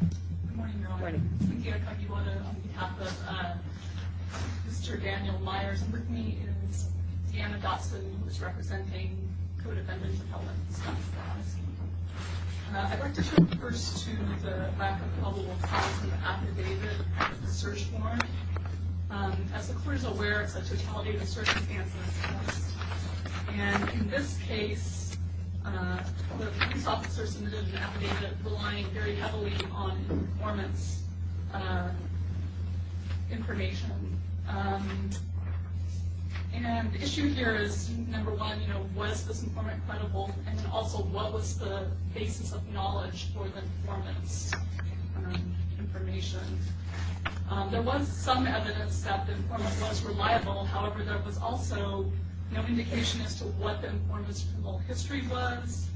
Good morning, Your Honor. I'm speaking on behalf of Mr. Daniel Myers, and with me is Deanna Dotson, who is representing co-defendants of Helen Stadnsky. I'd like to turn first to the lack of probable cause of the affidavit and the search warrant. As the Court is aware, it's a totality of circumstances, and in this case, police officers submitted an affidavit relying very heavily on informant's information. The issue here is, number one, was this informant credible? And also, what was the basis of knowledge for the informant's information? There was some evidence that the informant was reliable, however, there was also no indication as to what the informant's criminal history was.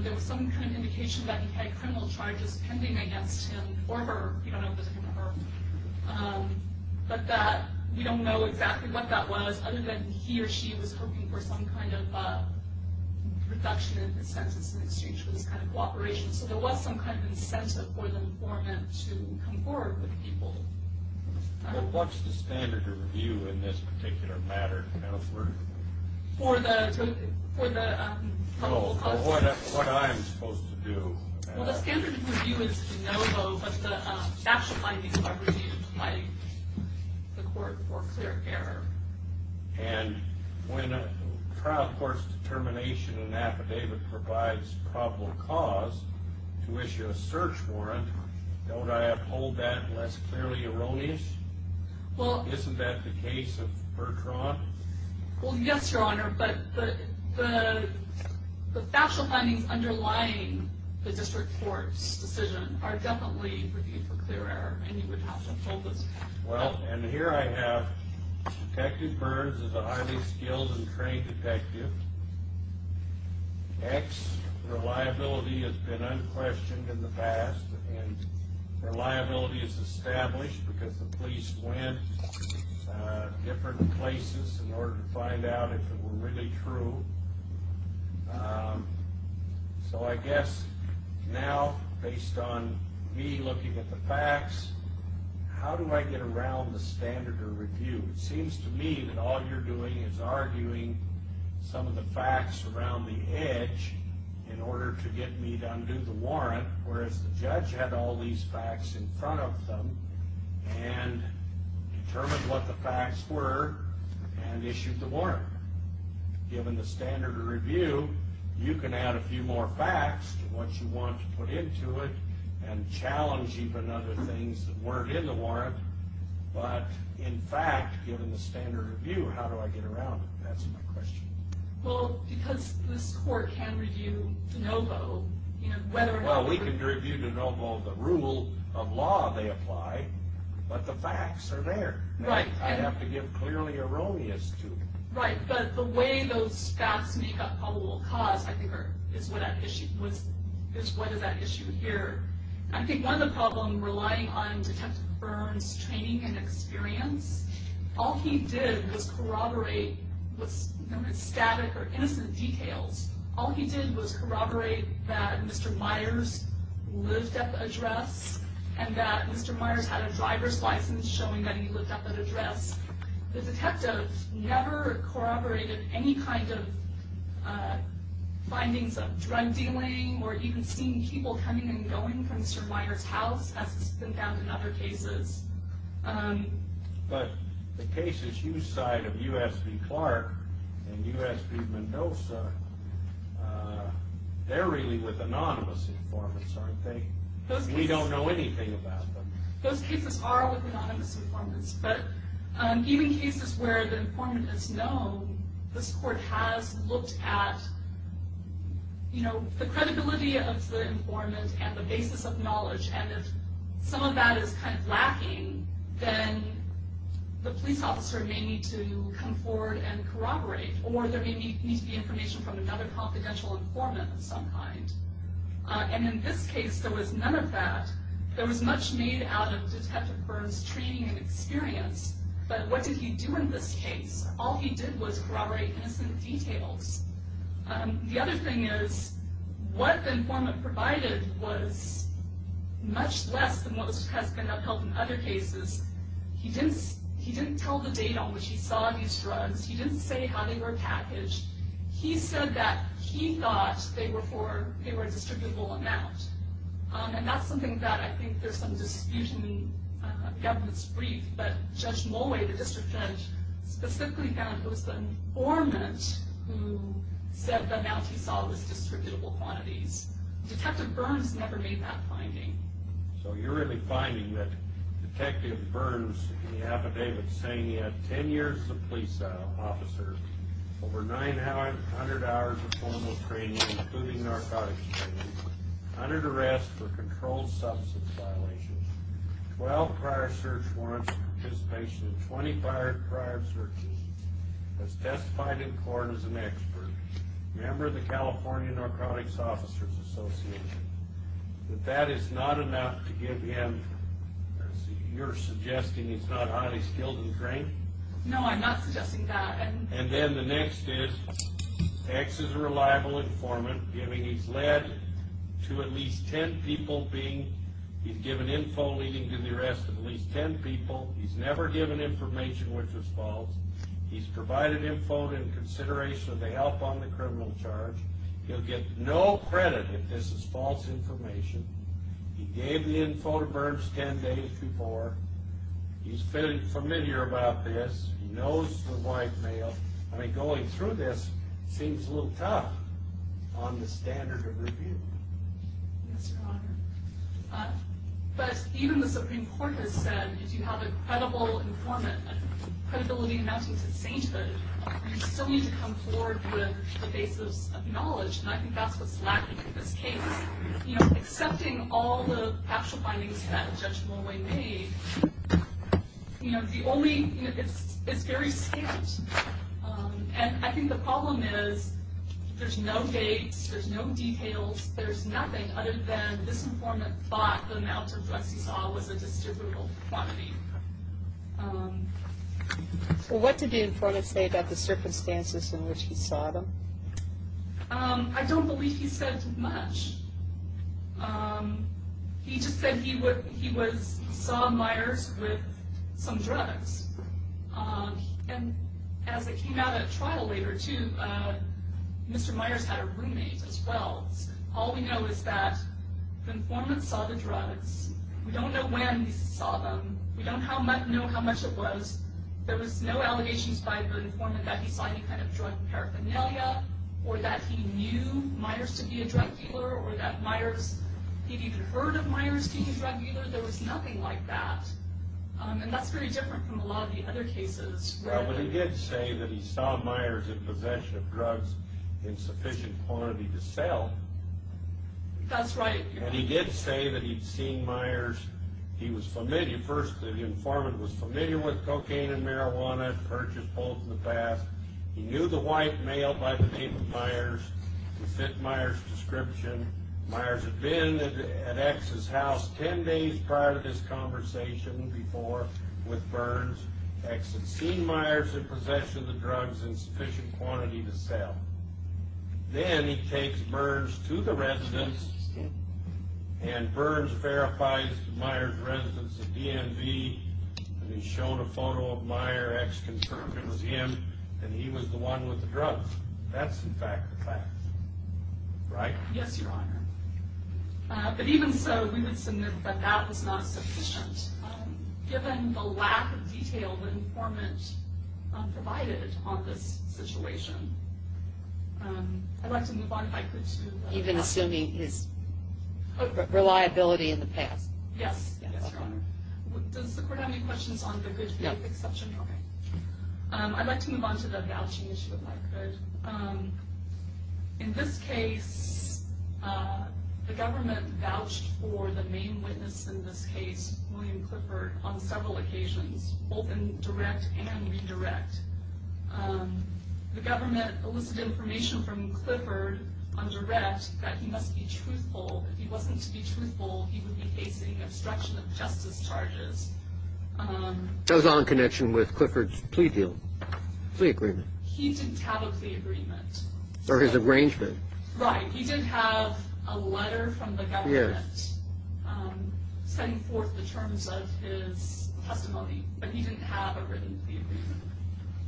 There was some kind of indication that he had criminal charges pending against him or her. We don't know if it was him or her. But that, we don't know exactly what that was, other than he or she was hoping for some kind of reduction in his sentence in exchange for this kind of cooperation. So there was some kind of incentive for the informant to come forward with people. Well, what's the standard of review in this particular matter? For the probable cause? No, for what I'm supposed to do. Well, the standard of review is de novo, but the factual findings are reviewed by the Court for clear error. And when a trial court's determination in an affidavit provides probable cause to issue a search warrant, don't I uphold that unless clearly erroneous? Isn't that the case of Bertrand? Well, yes, Your Honor, but the factual findings underlying the district court's decision are definitely reviewed for clear error, and you would have to uphold this. Well, and here I have Detective Burns as a highly skilled and trained detective. X, reliability has been unquestioned in the past, and reliability is established because the police went different places in order to find out if it were really true. So I guess now, based on me looking at the facts, how do I get around the standard of review? It seems to me that all you're doing is arguing some of the facts around the edge in order to get me to undo the warrant, whereas the judge had all these facts in front of them and determined what the facts were and issued the warrant. Given the standard of review, you can add a few more facts to what you want to put into it and challenge even other things that weren't in the warrant, but in fact, given the standard of review, how do I get around it? That's my question. Well, because this court can review de novo. Well, we can review de novo the rule of law they apply, but the facts are there. Right. I have to give clearly erroneous to. Right, but the way those facts make up probable cause, I think, is what is at issue here. I think one of the problems relying on Detective Burns' training and experience, all he did was corroborate what's known as static or innocent details. All he did was corroborate that Mr. Myers lived at the address and that Mr. Myers had a driver's license showing that he lived at that address. The detective never corroborated any kind of findings of drug dealing or even seeing people coming and going from Mr. Myers' house as has been found in other cases. But the cases you cite of U.S.B. Clark and U.S.B. Mendoza, they're really with anonymous informants, aren't they? We don't know anything about them. Those cases are with anonymous informants. But even cases where the informant is known, this court has looked at the credibility of the informant and the basis of knowledge. And if some of that is kind of lacking, then the police officer may need to come forward and corroborate. Or there may need to be information from another confidential informant of some kind. And in this case, there was none of that. There was much made out of Detective Burns' training and experience. But what did he do in this case? All he did was corroborate innocent details. The other thing is, what the informant provided was much less than what has been upheld in other cases. He didn't tell the date on which he saw these drugs. He didn't say how they were packaged. He said that he thought they were a distributable amount. And that's something that I think there's some dispute in the government's brief. But Judge Mulway, the district judge, specifically found it was the informant who said the amount he saw was distributable quantities. Detective Burns never made that finding. So you're really finding that Detective Burns in the affidavit saying he had 10 years of police officer, over 900 hours of formal training, including narcotics training, 100 arrests for controlled substance violations, 12 prior search warrants, participation in 20 prior searches, has testified in court as an expert, member of the California Narcotics Officers Association. But that is not enough to give him, you're suggesting he's not highly skilled in drink? No, I'm not suggesting that. And then the next is, X is a reliable informant. He's led to at least 10 people being, he's given info leading to the arrest of at least 10 people. He's never given information which was false. He's provided info in consideration of the help on the criminal charge. He'll get no credit if this is false information. He gave the info to Burns 10 days before. He's familiar about this. He knows the white male. I mean, going through this seems a little tough on the standard of review. Yes, Your Honor. But even the Supreme Court has said, if you have a credible informant, you still need to come forward with the basis of knowledge. And I think that's what's lacking in this case. You know, accepting all the factual findings that Judge Moway made, you know, the only, you know, it's very scant. And I think the problem is there's no dates, there's no details, there's nothing other than this informant thought the amount of drugs he saw was a distributable quantity. Well, what did the informant say about the circumstances in which he saw them? I don't believe he said much. He just said he saw Myers with some drugs. And as it came out at trial later, too, Mr. Myers had a roommate as well. All we know is that the informant saw the drugs. We don't know when he saw them. We don't know how much it was. There was no allegations by the informant that he saw any kind of drug paraphernalia or that he knew Myers to be a drug dealer or that Myers, he'd even heard of Myers being a drug dealer. There was nothing like that. And that's very different from a lot of the other cases. Well, but he did say that he saw Myers in possession of drugs in sufficient quantity to sell. That's right, Your Honor. And he did say that he'd seen Myers. He was familiar. First, the informant was familiar with cocaine and marijuana, purchased both in the past. He knew the white male by the name of Myers. He fit Myers' description. Myers had been at X's house 10 days prior to this conversation before with Burns. X had seen Myers in possession of the drugs in sufficient quantity to sell. Then he takes Burns to the residence and Burns verifies to Myers' residence at DMV that he's shown a photo of Myers, X confirms it was him, and he was the one with the drugs. That's, in fact, the fact. Right? Yes, Your Honor. But even so, we would submit that that was not sufficient. Given the lack of detail the informant provided on this situation, I'd like to move on, if I could, to that. Even assuming his reliability in the past. Yes, Your Honor. Does the Court have any questions on the good faith exception? No. Okay. I'd like to move on to the vouching issue, if I could. In this case, the government vouched for the main witness in this case, William Clifford, on several occasions, both in direct and redirect. The government elicited information from Clifford on direct that he must be truthful. If he wasn't to be truthful, he would be facing obstruction of justice charges. That was all in connection with Clifford's plea deal, plea agreement. He didn't have a plea agreement. Or his arrangement. Right. He did have a letter from the government setting forth the terms of his testimony, but he didn't have a written plea agreement.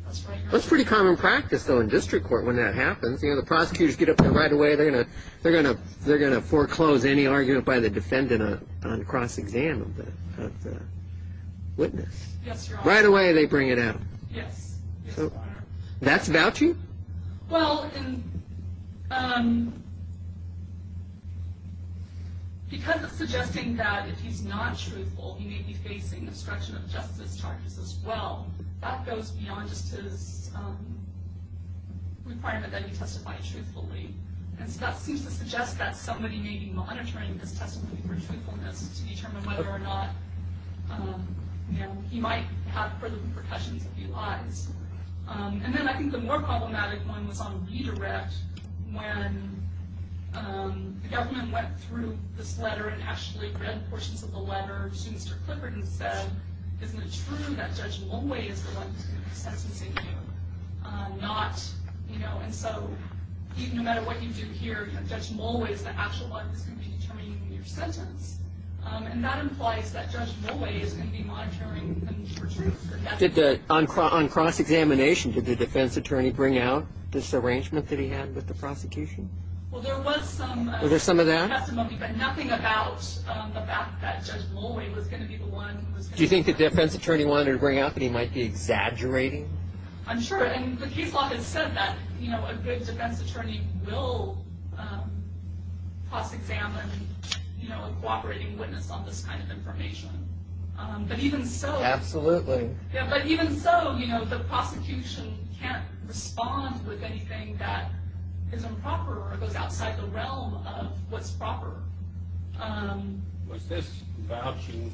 That's right, Your Honor. That's pretty common practice, though, in district court when that happens. You know, the prosecutors get up there right away. They're going to foreclose any argument by the defendant on cross-exam of the witness. Yes, Your Honor. Right away, they bring it out. Yes, Your Honor. That's vouching? Well, because it's suggesting that if he's not truthful, he may be facing obstruction of justice charges as well, that goes beyond just his requirement that he testify truthfully. And so that seems to suggest that somebody may be monitoring his testimony for truthfulness to determine whether or not he might have further repercussions if he lies. And then I think the more problematic one was on redirect. When the government went through this letter and actually read portions of the letter to Mr. Clifford and said, isn't it true that Judge Mulway is the one who's going to be sentencing you? Not, you know, and so no matter what you do here, Judge Mulway is the actual one who's going to be determining your sentence. And that implies that Judge Mulway is going to be monitoring him for truth. On cross-examination, did the defense attorney bring out this arrangement that he had with the prosecution? Well, there was some testimony, but nothing about the fact that Judge Mulway was going to be the one. Do you think the defense attorney wanted to bring out that he might be exaggerating? I'm sure. And the case law has said that, you know, a good defense attorney will cross-examine, you know, a cooperating witness on this kind of information. But even so... Absolutely. Yeah, but even so, you know, the prosecution can't respond with anything that is improper or goes outside the realm of what's proper. Was this vouching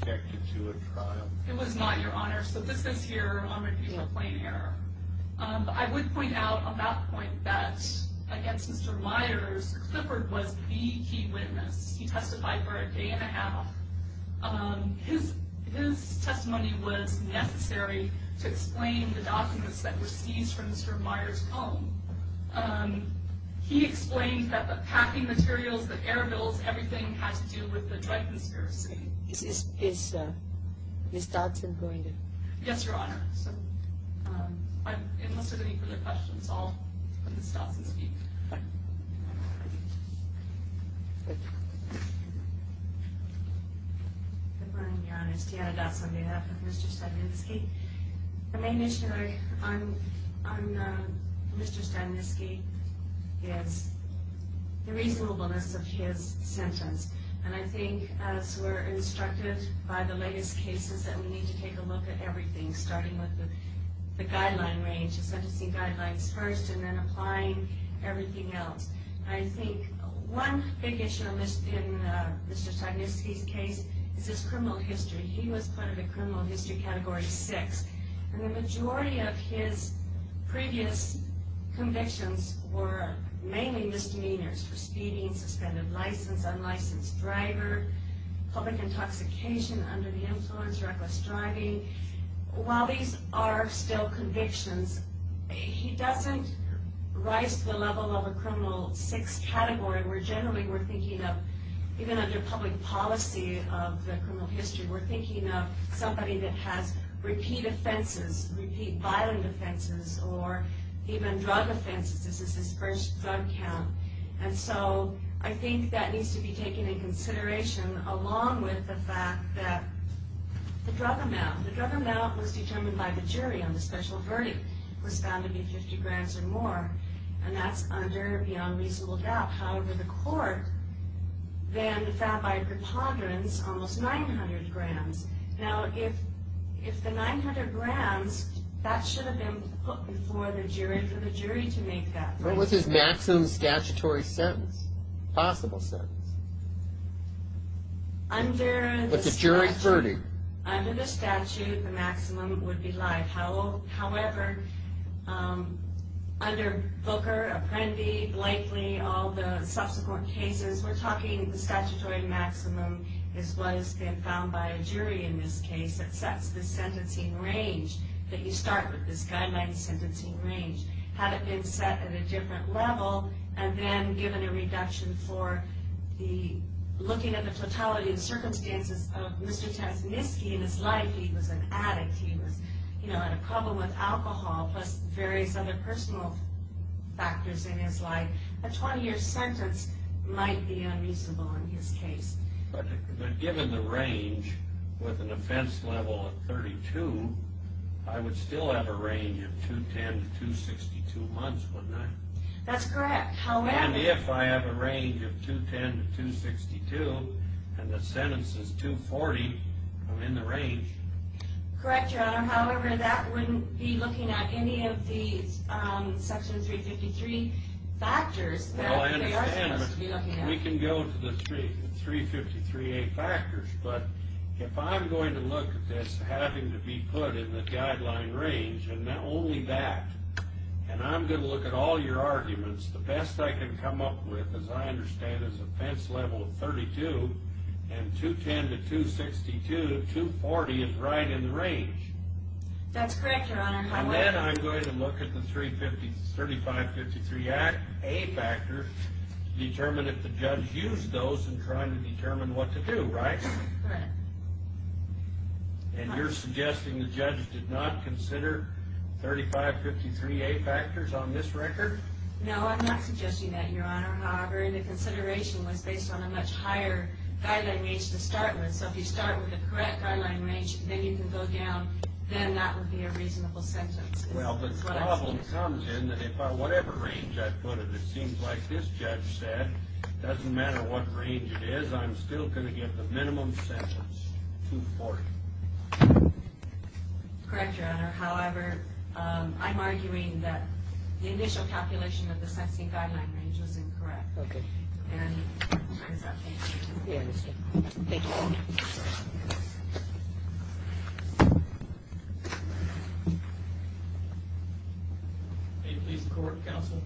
connected to a trial? It was not, Your Honor. So this is here on review of plain error. I would point out on that point that against Mr. Myers, Clifford was the key witness. He testified for a day and a half. His testimony was necessary to explain the documents that were seized from Mr. Myers' home. He explained that the packing materials, the air bills, everything had to do with the drug conspiracy. Is Ms. Dodson going to... Yes, Your Honor. So unless there are any further questions, I'll let Ms. Dodson speak. Good morning, Your Honor. It's Deanna Dodson, made up of Mr. Stavinsky. The main issue on Mr. Stavinsky is the reasonableness of his sentence. And I think as we're instructed by the latest cases that we need to take a look at everything, starting with the guideline range, sentencing guidelines first, and then applying everything else. I think one big issue in Mr. Stavinsky's case is his criminal history. He was put in the criminal history category 6. And the majority of his previous convictions were mainly misdemeanors for speeding, suspended license, unlicensed driver, public intoxication under the influence, reckless driving. While these are still convictions, he doesn't rise to the level of a criminal 6 category. Generally, we're thinking of, even under public policy of the criminal history, we're thinking of somebody that has repeat offenses, repeat violent offenses, or even drug offenses. This is his first drug count. And so I think that needs to be taken into consideration, along with the fact that the drug amount, the drug amount was determined by the jury on the special verdict, was found to be 50 grams or more. And that's under the unreasonable doubt. However, the court then found by preponderance almost 900 grams. Now, if the 900 grams, that should have been put before the jury for the jury to make that decision. What was his maximum statutory sentence, possible sentence? Under the statute. With the jury's verdict. Under the statute, the maximum would be life. However, under Booker, Apprendi, Blakely, all the subsequent cases, we're talking the statutory maximum is what has been found by a jury in this case that sets the sentencing range, that you start with this guideline sentencing range. Had it been set at a different level, and then given a reduction for looking at the fatality and circumstances of Mr. Taznitsky in his life. He was an addict. He had a problem with alcohol, plus various other personal factors in his life. A 20-year sentence might be unreasonable in his case. But given the range, with an offense level of 32, I would still have a range of 210 to 262 months, wouldn't I? That's correct. And if I have a range of 210 to 262, and the sentence is 240, I'm in the range. Correct, Your Honor. However, that wouldn't be looking at any of the Section 353 factors that they are supposed to be looking at. We can go to the 353A factors, but if I'm going to look at this having to be put in the guideline range, and not only that, and I'm going to look at all your arguments, the best I can come up with, as I understand, is an offense level of 32, and 210 to 262, 240 is right in the range. That's correct, Your Honor. And then I'm going to look at the 3553A factors to determine if the judge used those in trying to determine what to do, right? Correct. And you're suggesting the judge did not consider 3553A factors on this record? No, I'm not suggesting that, Your Honor. However, the consideration was based on a much higher guideline range to start with. So if you start with the correct guideline range, then you can go down, then that would be a reasonable sentence. Well, the problem comes in that whatever range I put it, it seems like this judge said, it doesn't matter what range it is, I'm still going to give the minimum sentence, 240. Correct, Your Honor. However, I'm arguing that the initial calculation of the sentencing guideline range was incorrect. Okay. And I'm done. We understand. Thank you, Your Honor. May it please the Court, Counsel?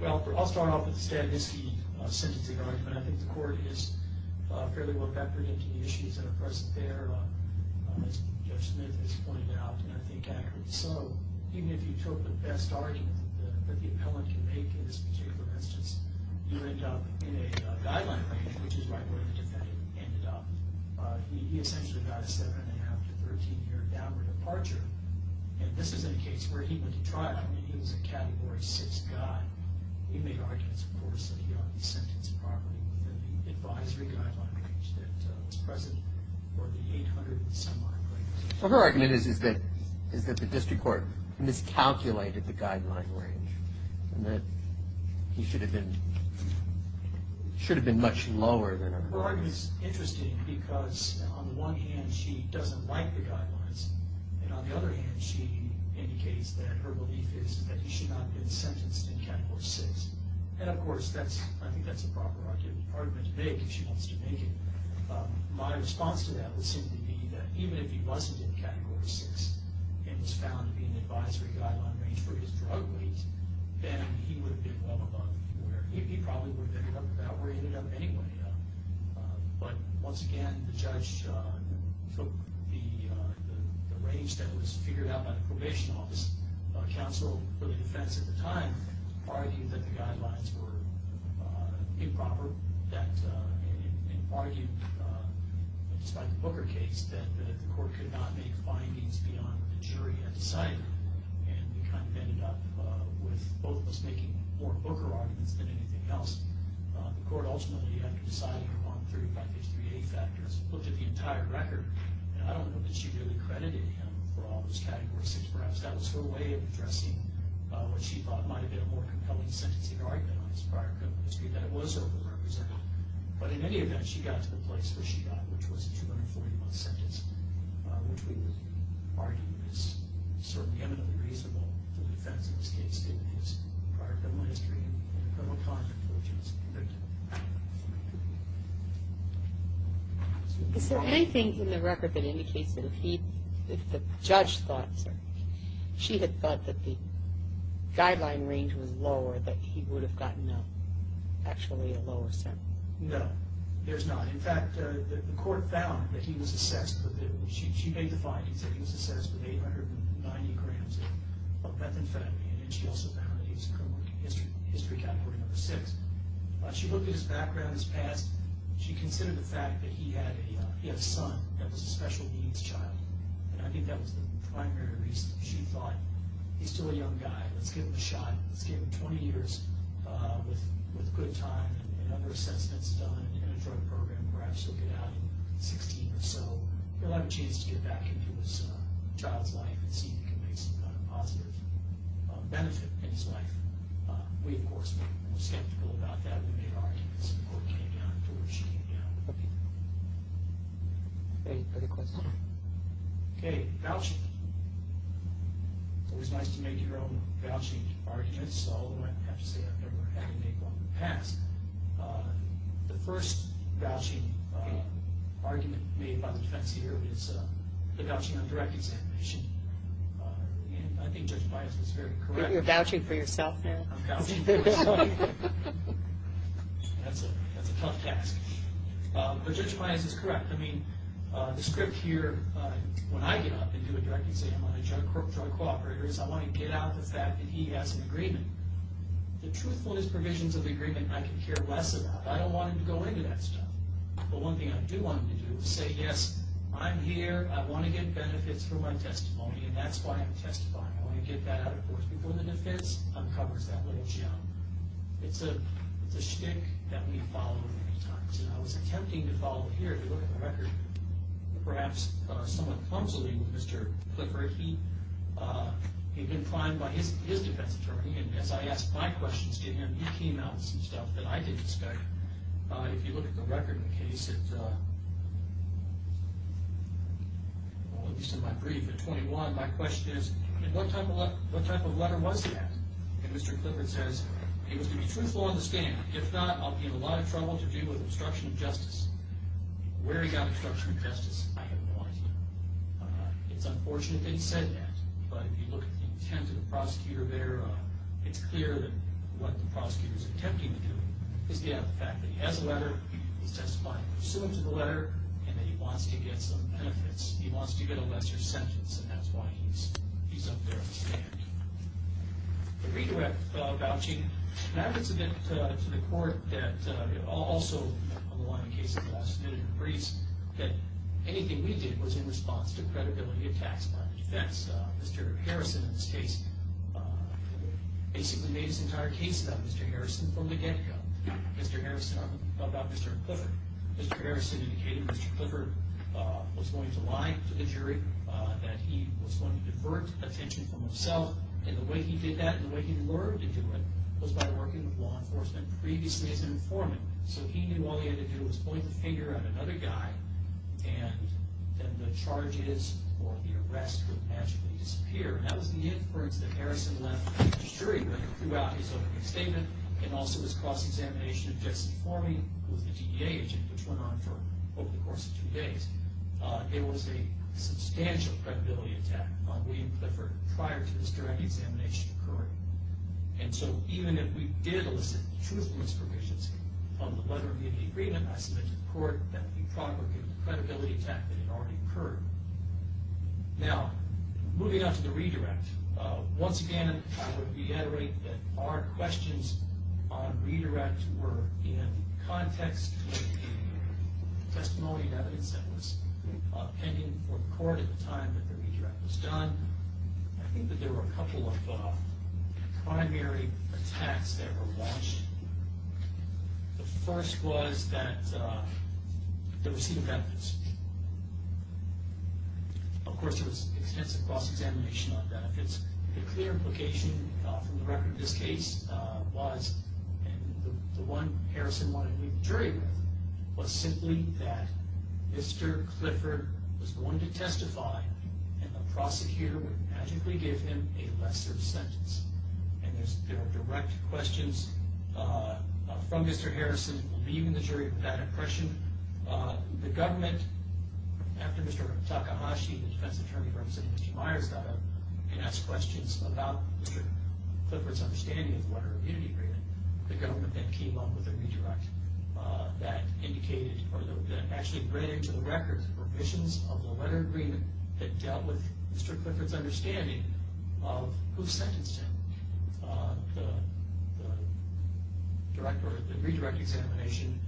Well, I'll start off with the Stavinsky sentencing argument. I think the Court is fairly well-vectored into the issues that are present there, as Judge Smith has pointed out, and I think accurately so. Even if you took the best argument that the appellant can make in this particular instance, you end up in a guideline range, which is right where the defendant ended up. He essentially got a 7 1⁄2 to 13-year downward departure. And this is in a case where he went to trial. I mean, he was a Category 6 guy. He made arguments, of course, that he ought to be sentenced properly within the advisory guideline range that was present or the 800-and-some-odd grade range. Well, her argument is that the district court miscalculated the guideline range and that he should have been much lower than that. Her argument is interesting because, on the one hand, she doesn't like the guidelines, and on the other hand, she indicates that her belief is that he should not have been sentenced in Category 6. And, of course, I think that's a proper argument to make if she wants to make it. My response to that would seem to be that even if he wasn't in Category 6 and was found to be in the advisory guideline range for his drug use, then he would have been well above where he probably would have ended up, about where he ended up anyway. But, once again, the judge took the range that was figured out by the probation office. Counsel for the defense at the time argued that the guidelines were improper and argued, despite the Booker case, that the court could not make findings beyond the jury had decided. And it kind of ended up with both of us making more Booker arguments than anything else. The court ultimately, after deciding on 3553A factors, looked at the entire record, and I don't know that she really credited him for all those Categories 6. Perhaps that was her way of addressing what she thought might have been a more compelling sentencing argument on his prior criminal history, that it was over-represented. But, in any event, she got to the place where she got, which was a 240-month sentence, which we would argue is certainly eminently reasonable for the defense in this case, in his prior criminal history and criminal conflict, which is convicted. Is there anything in the record that indicates that if the judge thought, she had thought that the guideline range was lower, that he would have gotten actually a lower sentence? No, there's not. In fact, the court found that he was assessed, she made the findings that he was assessed with 890 grams of methamphetamine, and she also found that he was a criminal history category number 6. She looked at his background, his past. She considered the fact that he had a son that was a special needs child. And I think that was the primary reason. She thought, he's still a young guy. Let's give him a shot. Let's give him 20 years with good time and other assessments done in a drug program. Perhaps he'll get out in 16 or so. He'll have a chance to get back into his child's life and see if he can make some kind of positive benefit in his life. We, of course, were skeptical about that. We made arguments, and the court came down to where she came down. Any further questions? Okay, vouching. It's always nice to make your own vouching arguments, although I have to say I've never had to make one in the past. The first vouching argument made by the defense here is the vouching of direct exemption. I think Judge Bias was very correct. You're vouching for yourself now. I'm vouching for myself. That's a tough task. But Judge Bias is correct. I mean, the script here, when I get up and do a direct exemption on a drug cooperator, is I want to get out the fact that he has an agreement. The truthfulness provisions of the agreement I could care less about. I don't want him to go into that stuff. But one thing I do want him to do is say, yes, I'm here. I want to get benefits for my testimony, and that's why I'm testifying. When I get that out, of course, before the defense uncovers that little gem. It's a schtick that we follow many times, and I was attempting to follow here. If you look at the record, perhaps someone counseling Mr. Clifford, he'd been fined by his defense attorney, and as I asked my questions to him, he came out with some stuff that I didn't study. If you look at the record in the case, at least in my brief, at 21, my question is, what type of letter was that? And Mr. Clifford says, it was to be truthful on the stand. If not, I'll be in a lot of trouble to do with obstruction of justice. Where he got obstruction of justice, I have no idea. It's unfortunate that he said that, but if you look at the intent of the prosecutor there, it's clear that what the prosecutor's attempting to do is get out the fact that he has a letter, he's testifying pursuant to the letter, and that he wants to get some benefits. He wants to get a lesser sentence, and that's why he's up there on the stand. The redirect vouching, that was a bit to the court that also, along the case of the last minute briefs, that anything we did was in response to credibility attacks upon the defense. Mr. Harrison, in this case, basically made his entire case about Mr. Harrison from the get-go. Mr. Harrison about Mr. Clifford. Mr. Harrison indicated Mr. Clifford was going to lie to the jury, that he was going to divert attention from himself. And the way he did that, and the way he learned to do it, was by working with law enforcement previously as an informant. So he knew all he had to do was point the finger at another guy, and then the charges or the arrest would magically disappear. And that was the inference that Harrison left the jury with throughout his opening statement, and also his cross-examination of Jesse Formey, who was the DEA agent which went on for over the course of two days. There was a substantial credibility attack on William Clifford prior to this jury examination occurring. And so even if we did elicit truthfulness provisions on the letter of the agreement, I submit to the court that we probably could have a credibility attack that had already occurred. Now, moving on to the redirect. Once again, I would reiterate that our questions on redirect were in context with the testimony and evidence that was pending for the court at the time that the redirect was done. I think that there were a couple of primary attacks that were launched. The first was that the receipt of evidence. Of course, there was extensive cross-examination on benefits. The clear implication from the record of this case was, and the one Harrison wanted to leave the jury with, was simply that Mr. Clifford was the one to testify, and the prosecutor would magically give him a lesser sentence. And there are direct questions from Mr. Harrison, leaving the jury with that impression. The government, after Mr. Takahashi, the defense attorney representing Mr. Myers, got up and asked questions about Mr. Clifford's understanding of the letter of unity agreement, the government then came up with a redirect that indicated, or that actually read into the records, provisions of the letter of agreement that dealt with Mr. Clifford's understanding of who sentenced him. The redirect examination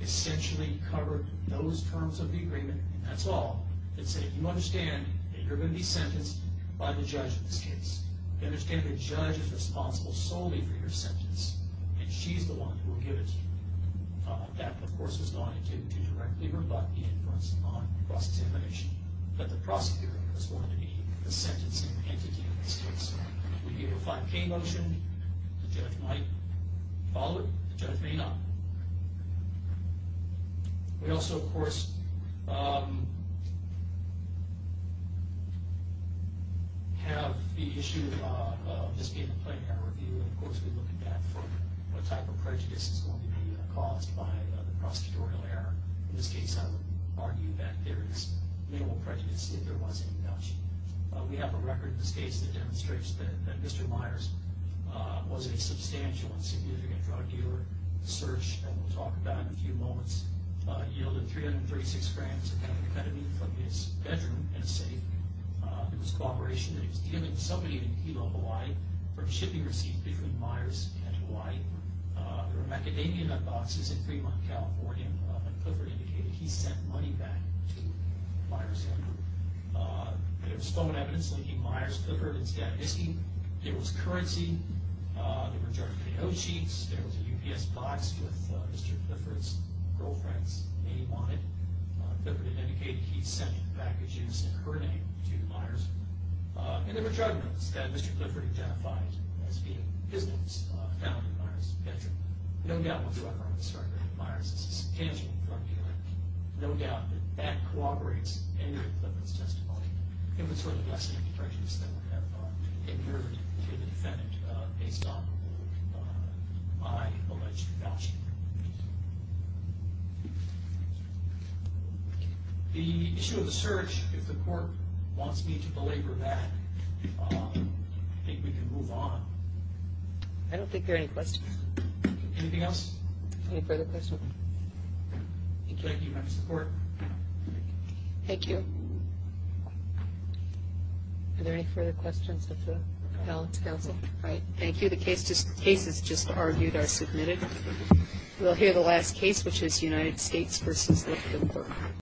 essentially covered those terms of the agreement. That's all. It said, you understand that you're going to be sentenced by the judge in this case. You understand the judge is responsible solely for your sentence, and she's the one who will give it to you. That, of course, was going to directly rebut the inference on cross-examination that the prosecutor was going to be the sentencing entity in this case. We gave a 5K motion. The judge might follow it. The judge may not. We also, of course, have the issue of this being a plain error review, and, of course, we look at that for what type of prejudice is going to be caused by the prosecutorial error. In this case, I would argue that there is minimal prejudice if there was any judge. We have a record in this case that demonstrates that Mr. Myers was a substantial and significant drug dealer. The search, and we'll talk about it in a few moments, yielded 336 grams of methamphetamine from his bedroom in a safe. It was a cooperation that he was dealing with somebody in Hilo, Hawaii, for a shipping receipt between Myers and Hawaii. There were macadamia nut boxes in Fremont, California, and Clifford indicated he sent money back to Myers. There was phone evidence linking Myers to Clifford. It was currency. There were drug payout sheets. There was a UPS box with Mr. Clifford's girlfriend's name on it. Clifford indicated he sent back a juice in her name to Myers. And there were drug notes that Mr. Clifford identified as being his notes found in Myers' bedroom. No doubt when we start looking at Myers, this is tangible drug dealing. No doubt that that corroborates any of Clifford's testimony. It was sort of a lesson in prejudice that would have occurred to the defendant based on my alleged voucher. The issue of the search, if the court wants me to belabor that, I think we can move on. I don't think there are any questions. Anything else? Any further questions? Thank you. Do you have support? Thank you. Are there any further questions of the balance counsel? All right. Thank you. The cases just argued are submitted. We'll hear the last case, which is United States v. Clifford.